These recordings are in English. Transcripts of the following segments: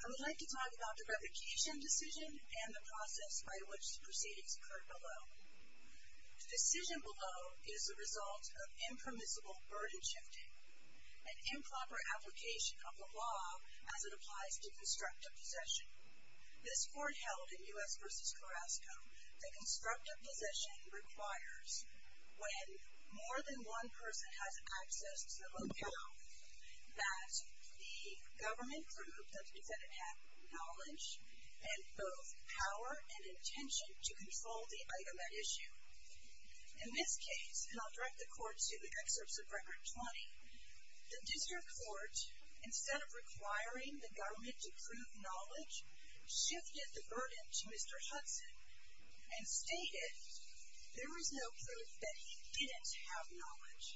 I would like to talk about the revocation decision and the process by which the proceedings occurred below. The decision below is the result of impermissible burden shifting, an improper application of the law as it applies to constructive possession. This court held in U.S. v. Carrasco that constructive possession requires when more than one person has access to the locale, that the government prove that the defendant had knowledge and both power and intention to control the item at issue. In this case, and I'll direct the court to the excerpts of Record 20, the district court, instead of requiring the government to prove knowledge, shifted the burden to Mr. Hudson and stated there is no proof that he didn't have knowledge.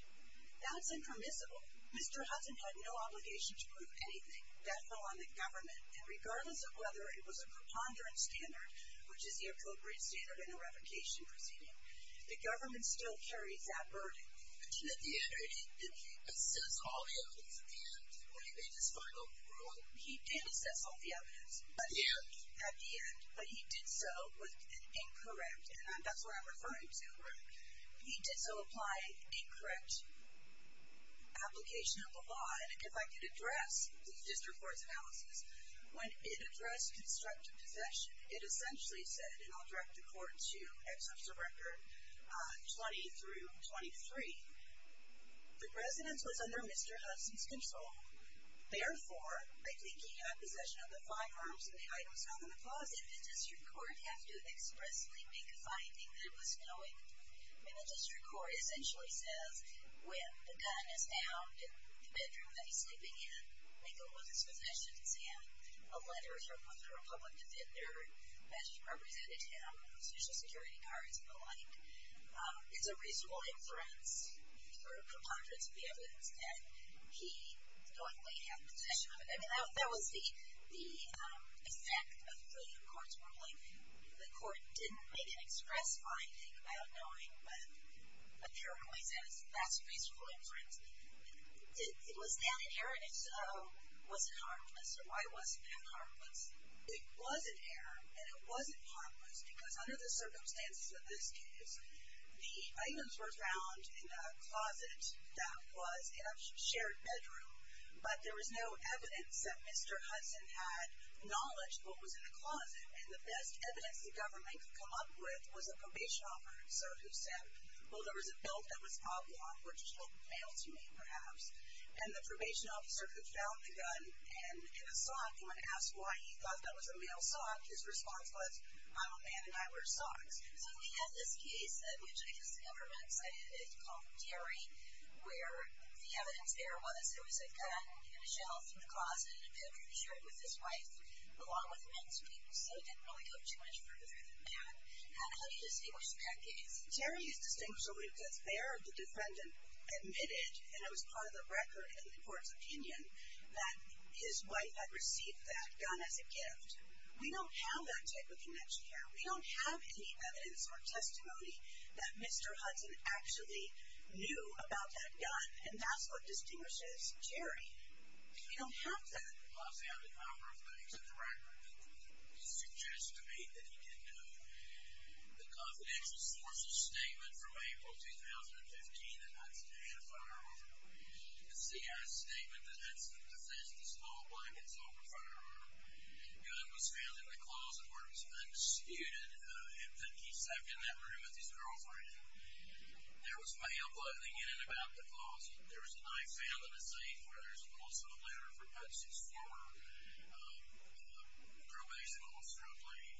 That's impermissible. Mr. Hudson had no obligation to prove anything. That fell on the government and regardless of whether it was a preponderance standard, which is the appropriate standard in a revocation proceeding, the government still carries that burden. At the end, did he assess all the evidence at the end or did they just kind of go through it? He did assess all the evidence. At the end? At the end, but he did so with an incorrect, and that's what I'm referring to, he did so apply incorrect application of the law and if I could address the district court's analysis, when it addressed constructive possession, it essentially said, and I'll direct the court to excerpts of Record 20 through 23, the residence was under Mr. Hudson's control. Therefore, I think he had possession of the firearms and the items found in the closet. Did the district court have to expressly make a finding that it was knowing? I mean, the district court essentially says when the gun is found in the bedroom that he's sleeping in, they go with his possessions in. A letter from the public defender that represented him, social security cards and the like, is a reasonable inference, sort of preponderance of the evidence, that he knowingly had possession of it. I mean, that was the effect of the court's ruling. The court didn't make an express finding about knowing, but apparently says that's a reasonable inference. It was an inheritance, so it wasn't harmless. Why wasn't it harmless? It was an inheritance and it wasn't harmless because under the circumstances of this case, the items were found in a closet that was a shared bedroom, but there was no evidence that Mr. Hudson had knowledge of what was in the closet and the best evidence the government could come up with was a probation officer who said, well, there was a belt that was attached to me, perhaps, and the probation officer who found the gun and in a sock, when asked why he thought that was a male sock, his response was, I'm a man and I wear socks. So we have this case which I guess the government cited, it's called Terry, where the evidence there was there was a gun in a shelf in the closet in a bedroom shared with his wife along with men's clothes, so it didn't really go too much further than that. How do you distinguish that case? Terry is distinguishable because there, the defendant admitted, and it was part of the record in the court's opinion, that his wife had received that gun as a gift. We don't have that type of connection here. We don't have any evidence or testimony that Mr. Hudson actually knew about that gun, and that's what distinguishes Terry. We don't have that. I'll say I'm in favor of that. As a director, he suggested to me that he didn't know. The confidential sources statement from April 2015, that Hudson had a firearm, the CIA statement that Hudson defends the small blankets over firearm, the gun was found in the closet where it was undisputed that he slept in that room with his girlfriend. There was mail bundling in and about the closet. There was a knife found in the safe where there was also a letter from Hudson's former probation officer, a lady.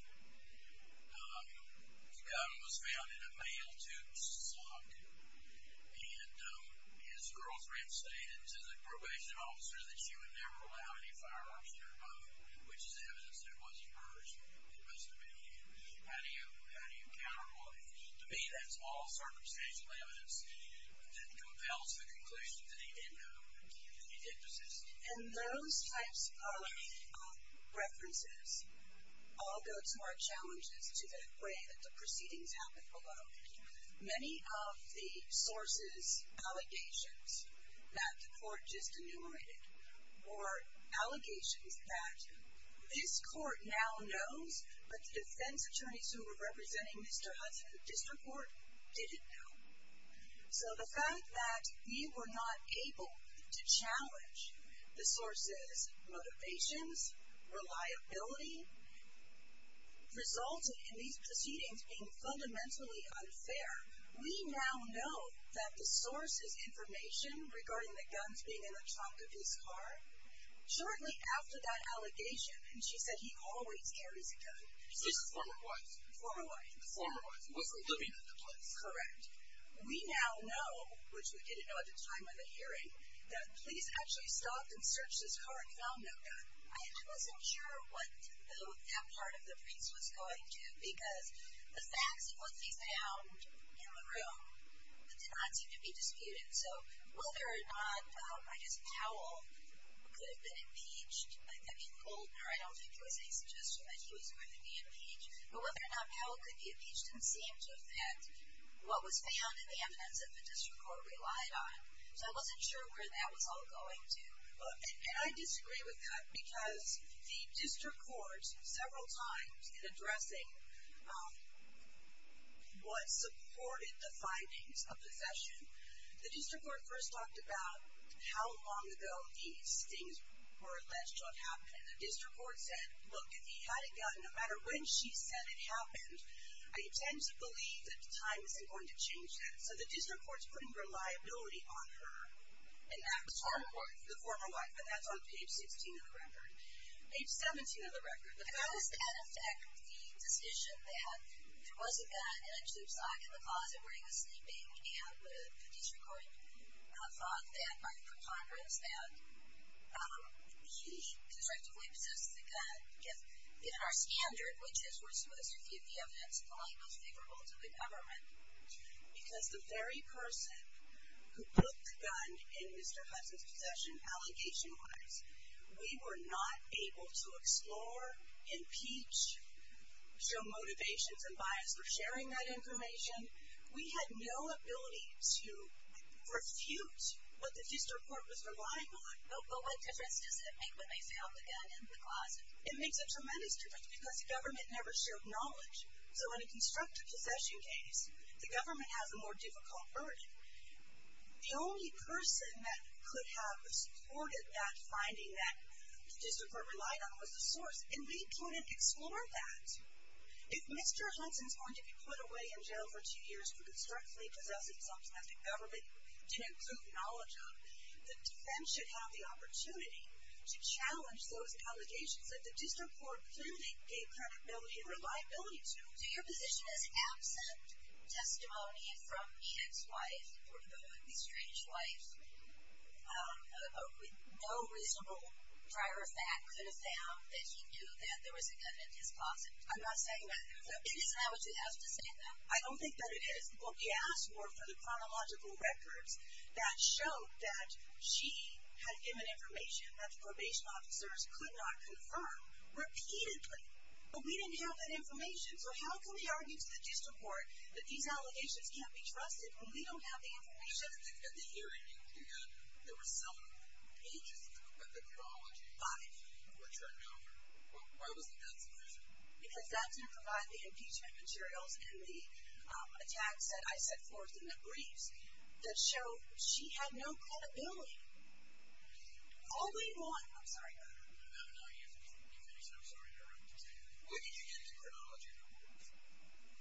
The gun was found in a mail tube sock, and his girlfriend stated to the probation officer that she would never allow any firearms in her home, which is evidence that it wasn't hers. It must have been his. How do you counterpoint, to me, that small circumstantial evidence that compels the conclusion that he didn't know, that he did persist? And those types of references all go to our challenges to the way that the proceedings happened below. Many of the sources' allegations that the court just enumerated were allegations that this court now knows, but the defense attorneys who were representing Mr. Hudson at the district court didn't know. So the fact that we were not able to challenge the sources' motivations, reliability, resulted in these proceedings being fundamentally unfair. We now know that the sources' information regarding the guns being in the trunk of his car, shortly after that allegation, and she said he always carries a gun. His former wife. Former wife. Former wife. Wasn't living in the place. That's correct. We now know, which we didn't know at the time of the hearing, that police actually stopped and searched his car and found no gun. I wasn't sure what that part of the briefs was going to, because the facts that were faced down in the room did not seem to be disputed. So whether or not, I guess, Powell could have been impeached. I mean, Goldner, I don't think there was any suggestion that she was going to be impeached. But whether or not Powell could be impeached didn't seem to affect what was found in the evidence that the district court relied on. So I wasn't sure where that was all going to. And I disagree with that, because the district court, several times in addressing what supported the findings of the session, the district court first talked about how long ago these things were alleged to have happened. And the district court said, look, if he had gotten, no matter when she said it happened, I tend to believe that time isn't going to change that. So the district court's putting reliability on her. And that was the former wife. The former wife. And that's on page 16 of the record. Page 17 of the record. The fact is, in effect, the decision that there was a gun in a tube socket in the closet where he was sleeping. And the district court thought that, for Congress, that he constructively possessed the gun. In our standard, which is, we're supposed to give the evidence that's most favorable to the government. Because the very person who put the gun in Mr. Hudson's possession, allegation-wise, we were not able to explore, impeach, show motivations and bias for sharing that information. We had no ability to refute what the district court was relying on. But what difference does it make when they found the gun in the closet? It makes a tremendous difference because the government never shared knowledge. So in a constructive possession case, the government has a more difficult burden. The only person that could have supported that finding that the district court relied on was the source. And we couldn't explore that. If Mr. Hudson's going to be put away in jail for two years for constructively possessing something that the government didn't acknowledge on, the defense should have the opportunity to challenge those allegations that the district court clearly gave credibility and reliability to. So your position is absent testimony from Ian's wife, the estranged wife, with no reasonable prior fact could have found that he knew that there was a gun in his closet? I'm not saying that. Is that what you have to say? I don't think that it is. What we asked for, for the chronological records, that showed that she had given information that the probation officers could not confirm, repeatedly. But we didn't have that information. So how can we argue to the district court that these allegations can't be trusted when we don't have the information? But you said that at the hearing, you had, there were seven pages of the chronology. Five. We're turning it over. Why wasn't that the solution? Because that didn't provide the impeachment materials and the attacks that I set forth in the briefs that show she had no credibility. All day long. I'm sorry. No, you finish. You finish. I'm sorry to interrupt. Where did you get the chronology records?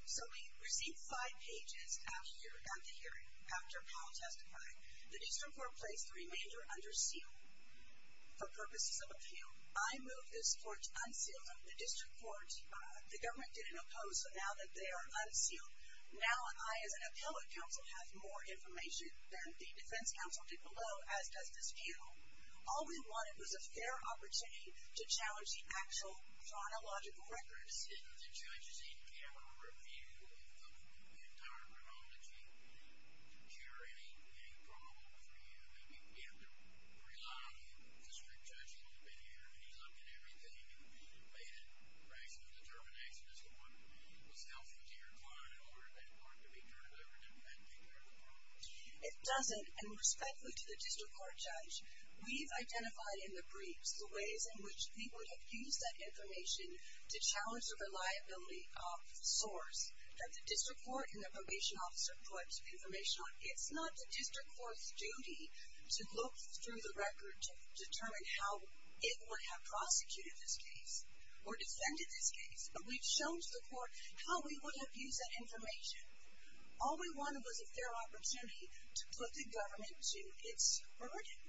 So we received five pages at the hearing, after Paul testified. The district court placed the remainder under seal for purposes of appeal. I moved this court unsealed. The district court, the government didn't oppose, so now that they are unsealed, now I as an appellate counsel have more information than the defense counsel did below, as does this panel. All we wanted was a fair opportunity to challenge the actual chronological records. Has the judge's in-camera review of the entire chronology cured any problems for you? I mean, we have to rely on the district judge. He's been here. He's looked at everything and made a rational determination as to what was helpful to your client in order for that part to be turned over and taken care of appropriately. It doesn't, and respectfully to the district court judge, we've identified in the briefs the ways in which he would have used that information to challenge the reliability of source that the district court and the probation officer put information on. It's not the district court's duty to look through the record to determine how it would have prosecuted this case or defended this case, but we've shown to the court how we would have used that information. All we wanted was a fair opportunity to put the government to its burden,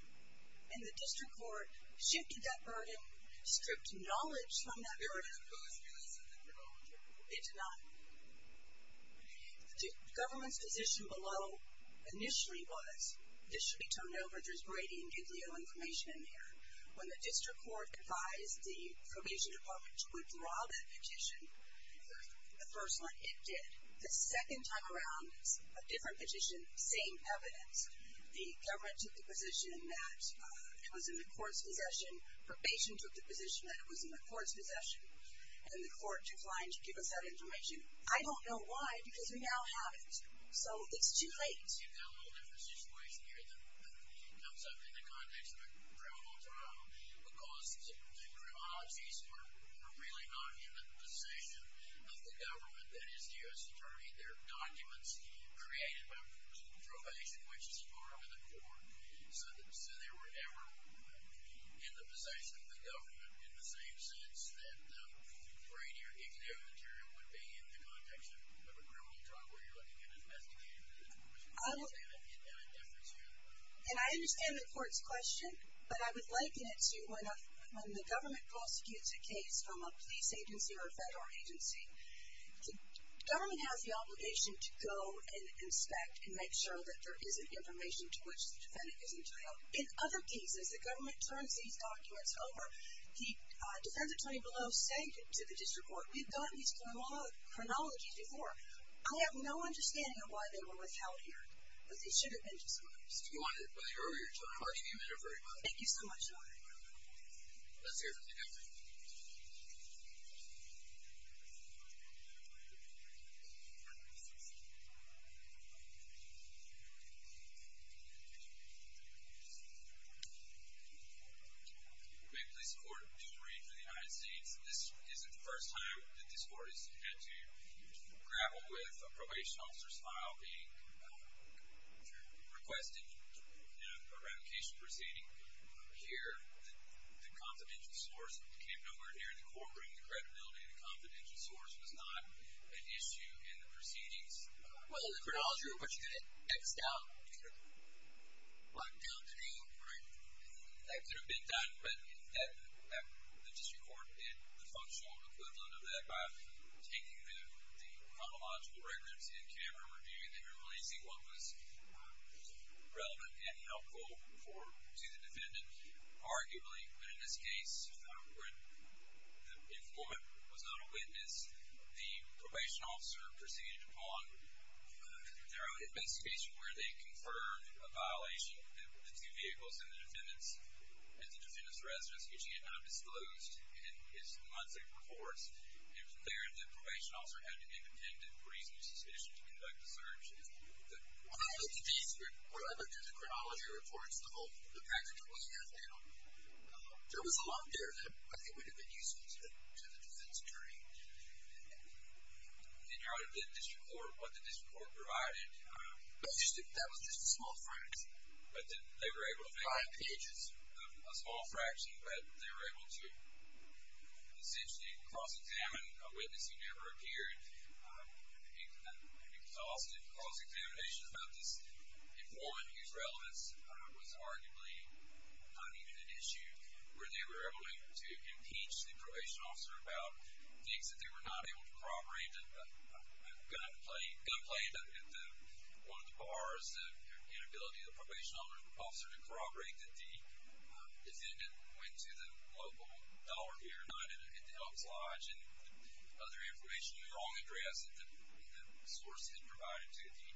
and the district court shifted that burden, stripped knowledge from that burden. It did not. The government's position below initially was this should be turned over. There's grating nuclear information in there. When the district court advised the probation department to withdraw that petition, the first one, it did. The second time around, a different petition, same evidence. The government took the position that it was in the court's possession. Probation took the position that it was in the court's possession, and the court declined to give us that information. I don't know why because we now have it, so it's too late. You've got a little different situation here that comes up in the context of a criminal trial because the criminologists were really not in the position of the government that is the U.S. attorney. There are documents created by probation, which is part of the court. So they were never in the possession of the government in the same sense that grating your nuclear material would be in the context of a criminal trial where you're looking at investigating the information. I understand the court's question, but I would liken it to when the government prosecutes a case from a police agency or a federal agency. The government has the obligation to go and inspect and make sure that there isn't information to which the defendant is entitled. In other cases, the government turns these documents over. The defense attorney below saying to the district court, we've gotten these chronologies before. I have no understanding of why they were withheld here. But they should have been, to some extent. You wanted it by the earlier time. I'll give you a minute, very quickly. Thank you so much. Good morning. Let's hear from the defense attorney. We're a police court in the United States. This isn't the first time that this court has had to grapple with a probation officer's trial being requested in a revocation proceeding here. The confidential source came nowhere here. The court bringing the credibility of the confidential source was not an issue in the proceedings. Well, the chronology was what you had it X'd out. It was locked down to me. Right. That could have been done, but the district court did the functional equivalent of that by taking the chronological records in camera and reviewing them and releasing what was relevant and helpful to the defendant. Arguably, but in this case, when the informant was not a witness, the probation officer proceeded upon their own investigation where they conferred a violation of the two vehicles and the defendant's residence, getting it undisclosed in his monthly reports. It was clear that the probation officer had to be contented for reasons he's finished to conduct the search. When I looked at these, when I looked at the chronology reports, the whole package wasn't there. There was a lot there that I think would have been useful to the defense attorney. And how did the district court, what the district court provided? That was just a small fraction. But they were able to- Five pages. A small fraction, but they were able to essentially cross-examine a witness who never appeared. An exhaustive cross-examination about this informant whose relevance was arguably not even an issue, where they were able to impeach the probation officer about things that they were not able to corroborate. I got a complaint at one of the bars. The inability of the probation officer to corroborate that the defendant went to the local dollar here, not at the Elks Lodge. And other information, the wrong address that the source had provided to the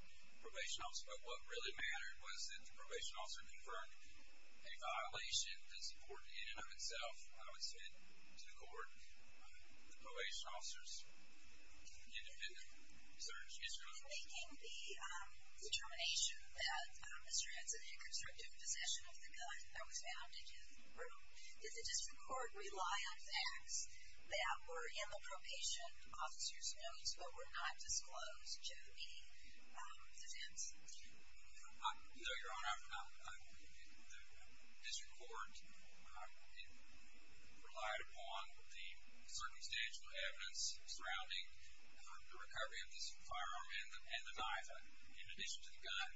probation officer. But what really mattered was that the probation officer confirmed a violation that's important in and of itself. I would say to the court, the probation officer's independent search is- In making the determination that Mr. Henson had constructive possession of the gun that was found in his room, did the district court rely on facts that were in the probation officer's notes but were not disclosed to the defense? No, Your Honor. The district court relied upon the circumstantial evidence surrounding the recovery of this firearm and the knife, in addition to the gun,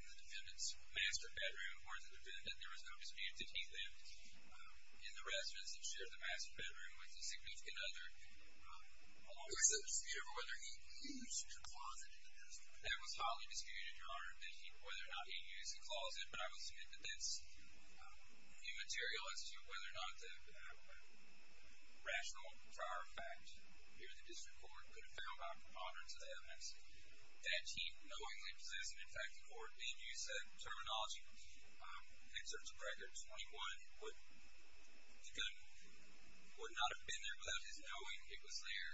in the defendant's master bedroom, where the defendant, there was no dispute that he lived in the residence that shared the master bedroom with a significant other. Was there a dispute over whether he used the closet in his room? That was highly disputed, Your Honor, whether or not he used the closet. But I will submit that that's immaterial as to whether or not the rational prior fact here at the district court could have found by a preponderance of the evidence that he knowingly possessed it. In fact, the court, in use of terminology, inserts a record 21, the gun would not have been there without his knowing it was there.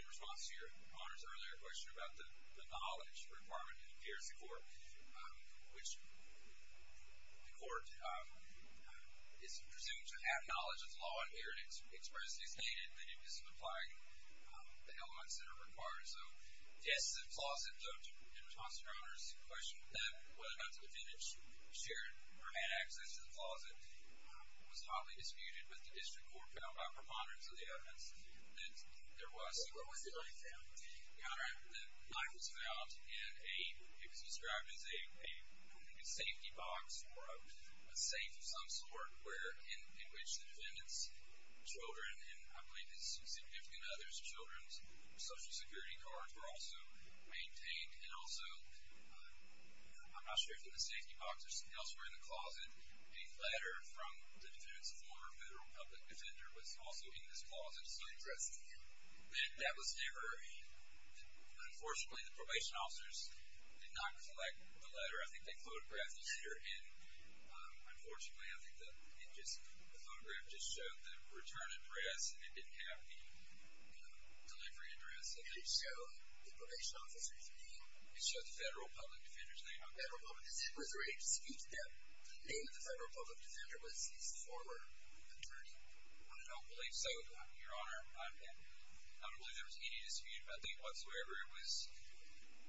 In response to Your Honor's earlier question about the knowledge requirement here at the court, which the court is presumed to have knowledge of the law and heritage, expressly stated that it doesn't apply to the elements that are required. So yes, the closet, though, in response to Your Honor's question whether or not the defendant shared or had access to the closet, was highly disputed with the evidence that there was. Your Honor, the knife was found in a, it was described as a safety box or a safe of some sort where, in which the defendant's children and, I believe, his significant other's children's social security cards were also maintained. And also, I'm not sure if in the safety box or somewhere else in the closet, a letter from the defendant's former federal public defender was also in this closet. I'm just not interested to know. That was never, I mean, unfortunately, the probation officers did not collect the letter. I think they photographed it here, and unfortunately, I think the photograph just showed the return address, and it didn't have the delivery address. It did show the probation officer's name. It showed the federal public defender's name. The federal public defender was ready to speak to that. The name of the federal public defender was his former attorney. I don't believe so, Your Honor. I don't believe there was any dispute, I think, whatsoever. It was,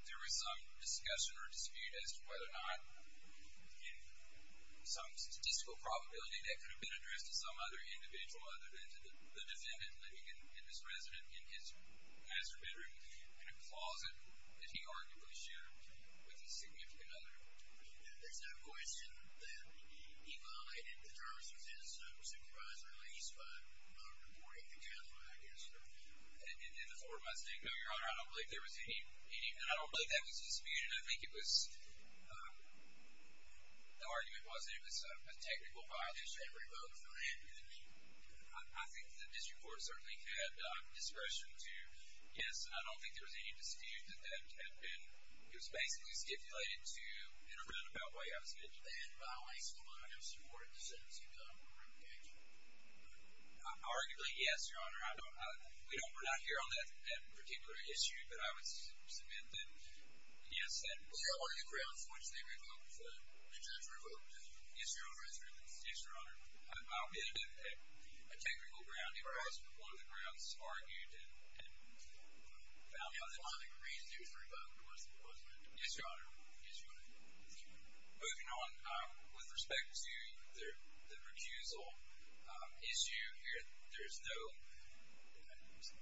there was some discussion or dispute as to whether or not, in some statistical probability, that could have been addressed to some other individual other than to the defendant living in this residence, in his master bedroom, in a closet that he arguably shared with his significant other. There's no question that he violated the terms of his supervised release by reporting to counsel, I guess. In the form of a statement? No, Your Honor, I don't believe there was any, and I don't believe that was a dispute, and I think it was, the argument wasn't. It was a technical violation. Everybody voted for Andrew. I think the district court certainly had discretion to guess, and I don't think there was any dispute that that had been, it was basically stipulated to, in a roundabout way, I would submit that Andrew violated some of the other terms of his supervised release. Arguably, yes, Your Honor, I don't, we're not here on that particular issue, but I would submit that, yes, that was. Was there any grounds for which they would have voted for Andrew? The district court voted for Andrew. Yes, Your Honor. Yes, Your Honor. I don't believe there was a technical ground. It was one of the grounds argued and found out that. The only reason it was revoked was because of Andrew. Yes, Your Honor. Yes, Your Honor. Moving on, with respect to the recusal issue here, there's no,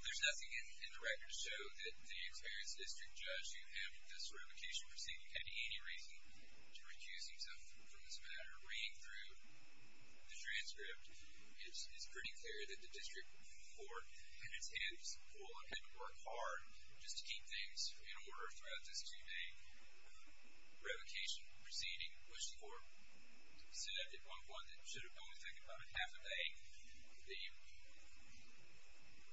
there's nothing in the record to show that the experienced district judge who had this revocation proceeding had any reason to recuse himself from this matter. Reading through the transcript, it's pretty clear that the district court had its hands full, had to work hard just to keep things in order throughout this two-day revocation proceeding, which the court said it was one that should have only taken about a half a day. The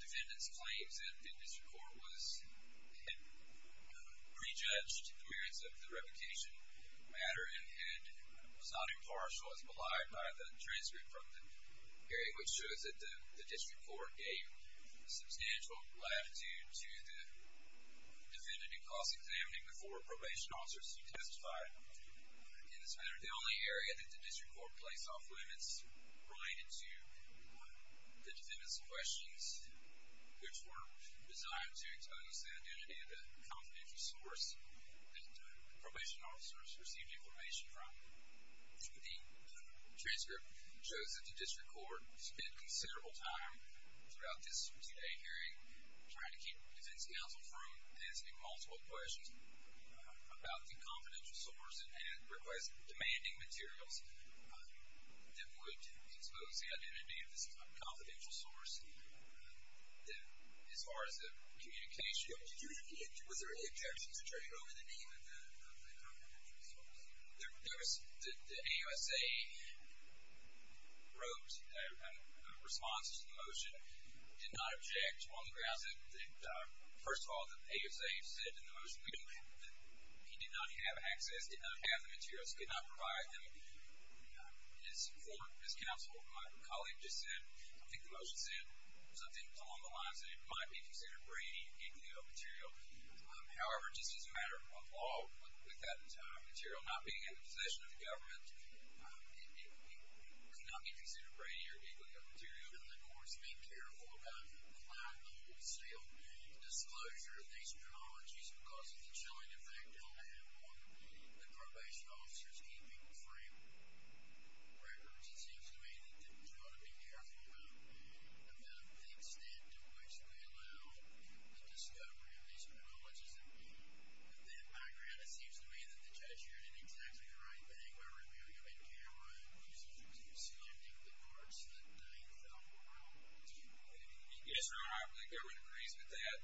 defendant's claim that the district court was, had re-judged the merits of the revocation matter and was not impartial as belied by the transcript from the hearing, which shows that the district court gave substantial latitude to the defendant in cost examining before probation officers who testified in this matter. The only area that the district court placed off limits related to the defendant's questions, which were designed to expose the identity of the confidential source that the probation officers received information from. The transcript shows that the district court spent considerable time throughout this two-day hearing trying to keep defense counsel from answering multiple questions about the confidential source and request demanding materials that would expose the identity of this confidential source as far as the communication. Was there an objection to turning over the name of the confidential source? There was, the AUSA wrote a response to the motion. Did not object on the grounds that, first of all, the AUSA said in the motion that he did not have access, did not have the materials, could not provide them. His former, his counsel, my colleague just said, I think the motion said something along the lines that it might be considered brainy and illegal material. However, just as a matter of law, with that type of material not being in the possession of the government, it could not be considered brainy or illegal material. And the court's being careful about the client holding still disclosure of these chronologies because of the chilling effect on the probation officer's keeping frame records. It seems to me that they've got to be careful about the extent to which they allow the discovery of these chronologies. In that background, it seems to me that the judge here did exactly the right thing by revealing them in camera. Because as you can see, I think the courts that they fell for Yes, Your Honor, the government agrees with that.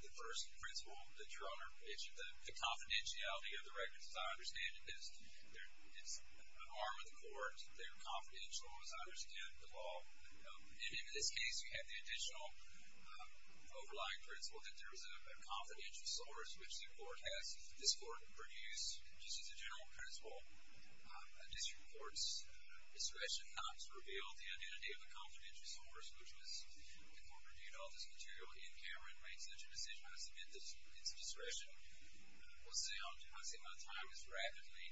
The first principle that, Your Honor, is the confidentiality of the records. As I understand it, it's an arm of the courts. They're confidential, as I understand the law. And in this case, you have the additional overlying principle that there is a confidential source, which this court produced just as a general principle. This court's discretion not to reveal the identity of the confidential source, which was important due to all this material in camera, and made such a decision. I submit that it's discretion. I say my time has rapidly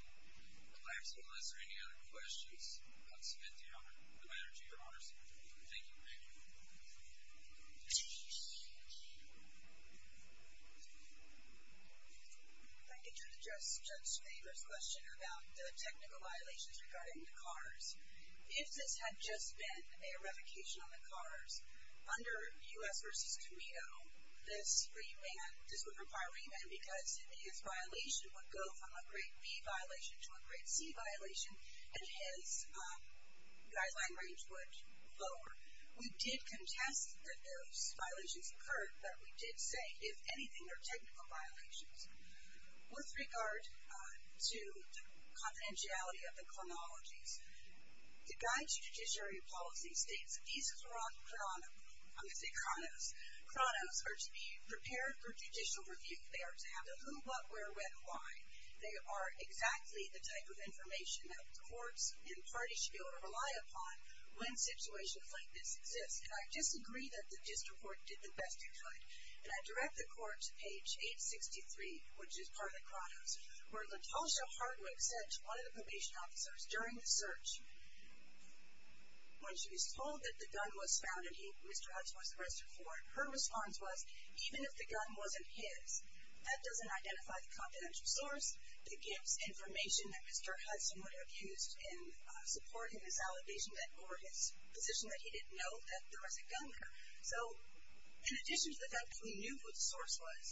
elapsed. Unless there are any other questions, I submit the honor to Your Honor Thank you, Your Honor. If I could just address the first question about the technical violations regarding the cars. If this had just been a revocation on the cars, under U.S. v. Tometo, this would require a remand because his violation would go from a grade B violation to a grade C violation, and his guideline range would lower. We did contest that those violations occurred, but we did say, if anything, they're technical violations. With regard to confidentiality of the chronologies, the guide to judiciary policy states these chronos are to be prepared for judicial review. They are to have the who, what, where, when, why. They are exactly the type of information that courts and parties should be able to rely upon when situations like this exist. And I disagree that the district court did the best it could. And I direct the court to page 863, which is part of the chronos, where LaTosha Hardwick said to one of the probation officers during the search, when she was told that the gun was found and Mr. Hudson was arrested for it, her response was, even if the gun wasn't his, that doesn't identify the confidential source. It gives information that Mr. Hudson would have used in supporting his allegation or his position that he didn't know that there was a gun there. So, in addition to the fact that we knew who the source was,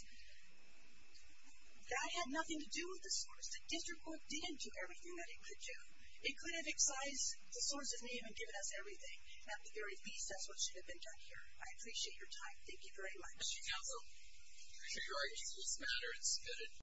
that had nothing to do with the source. The district court didn't do everything that it could do. It could have excised the source's name and given us everything. At the very least, that's what should have been done here. I appreciate your time. Thank you very much. Thank you, counsel. I appreciate your arguments. This matter is submitted.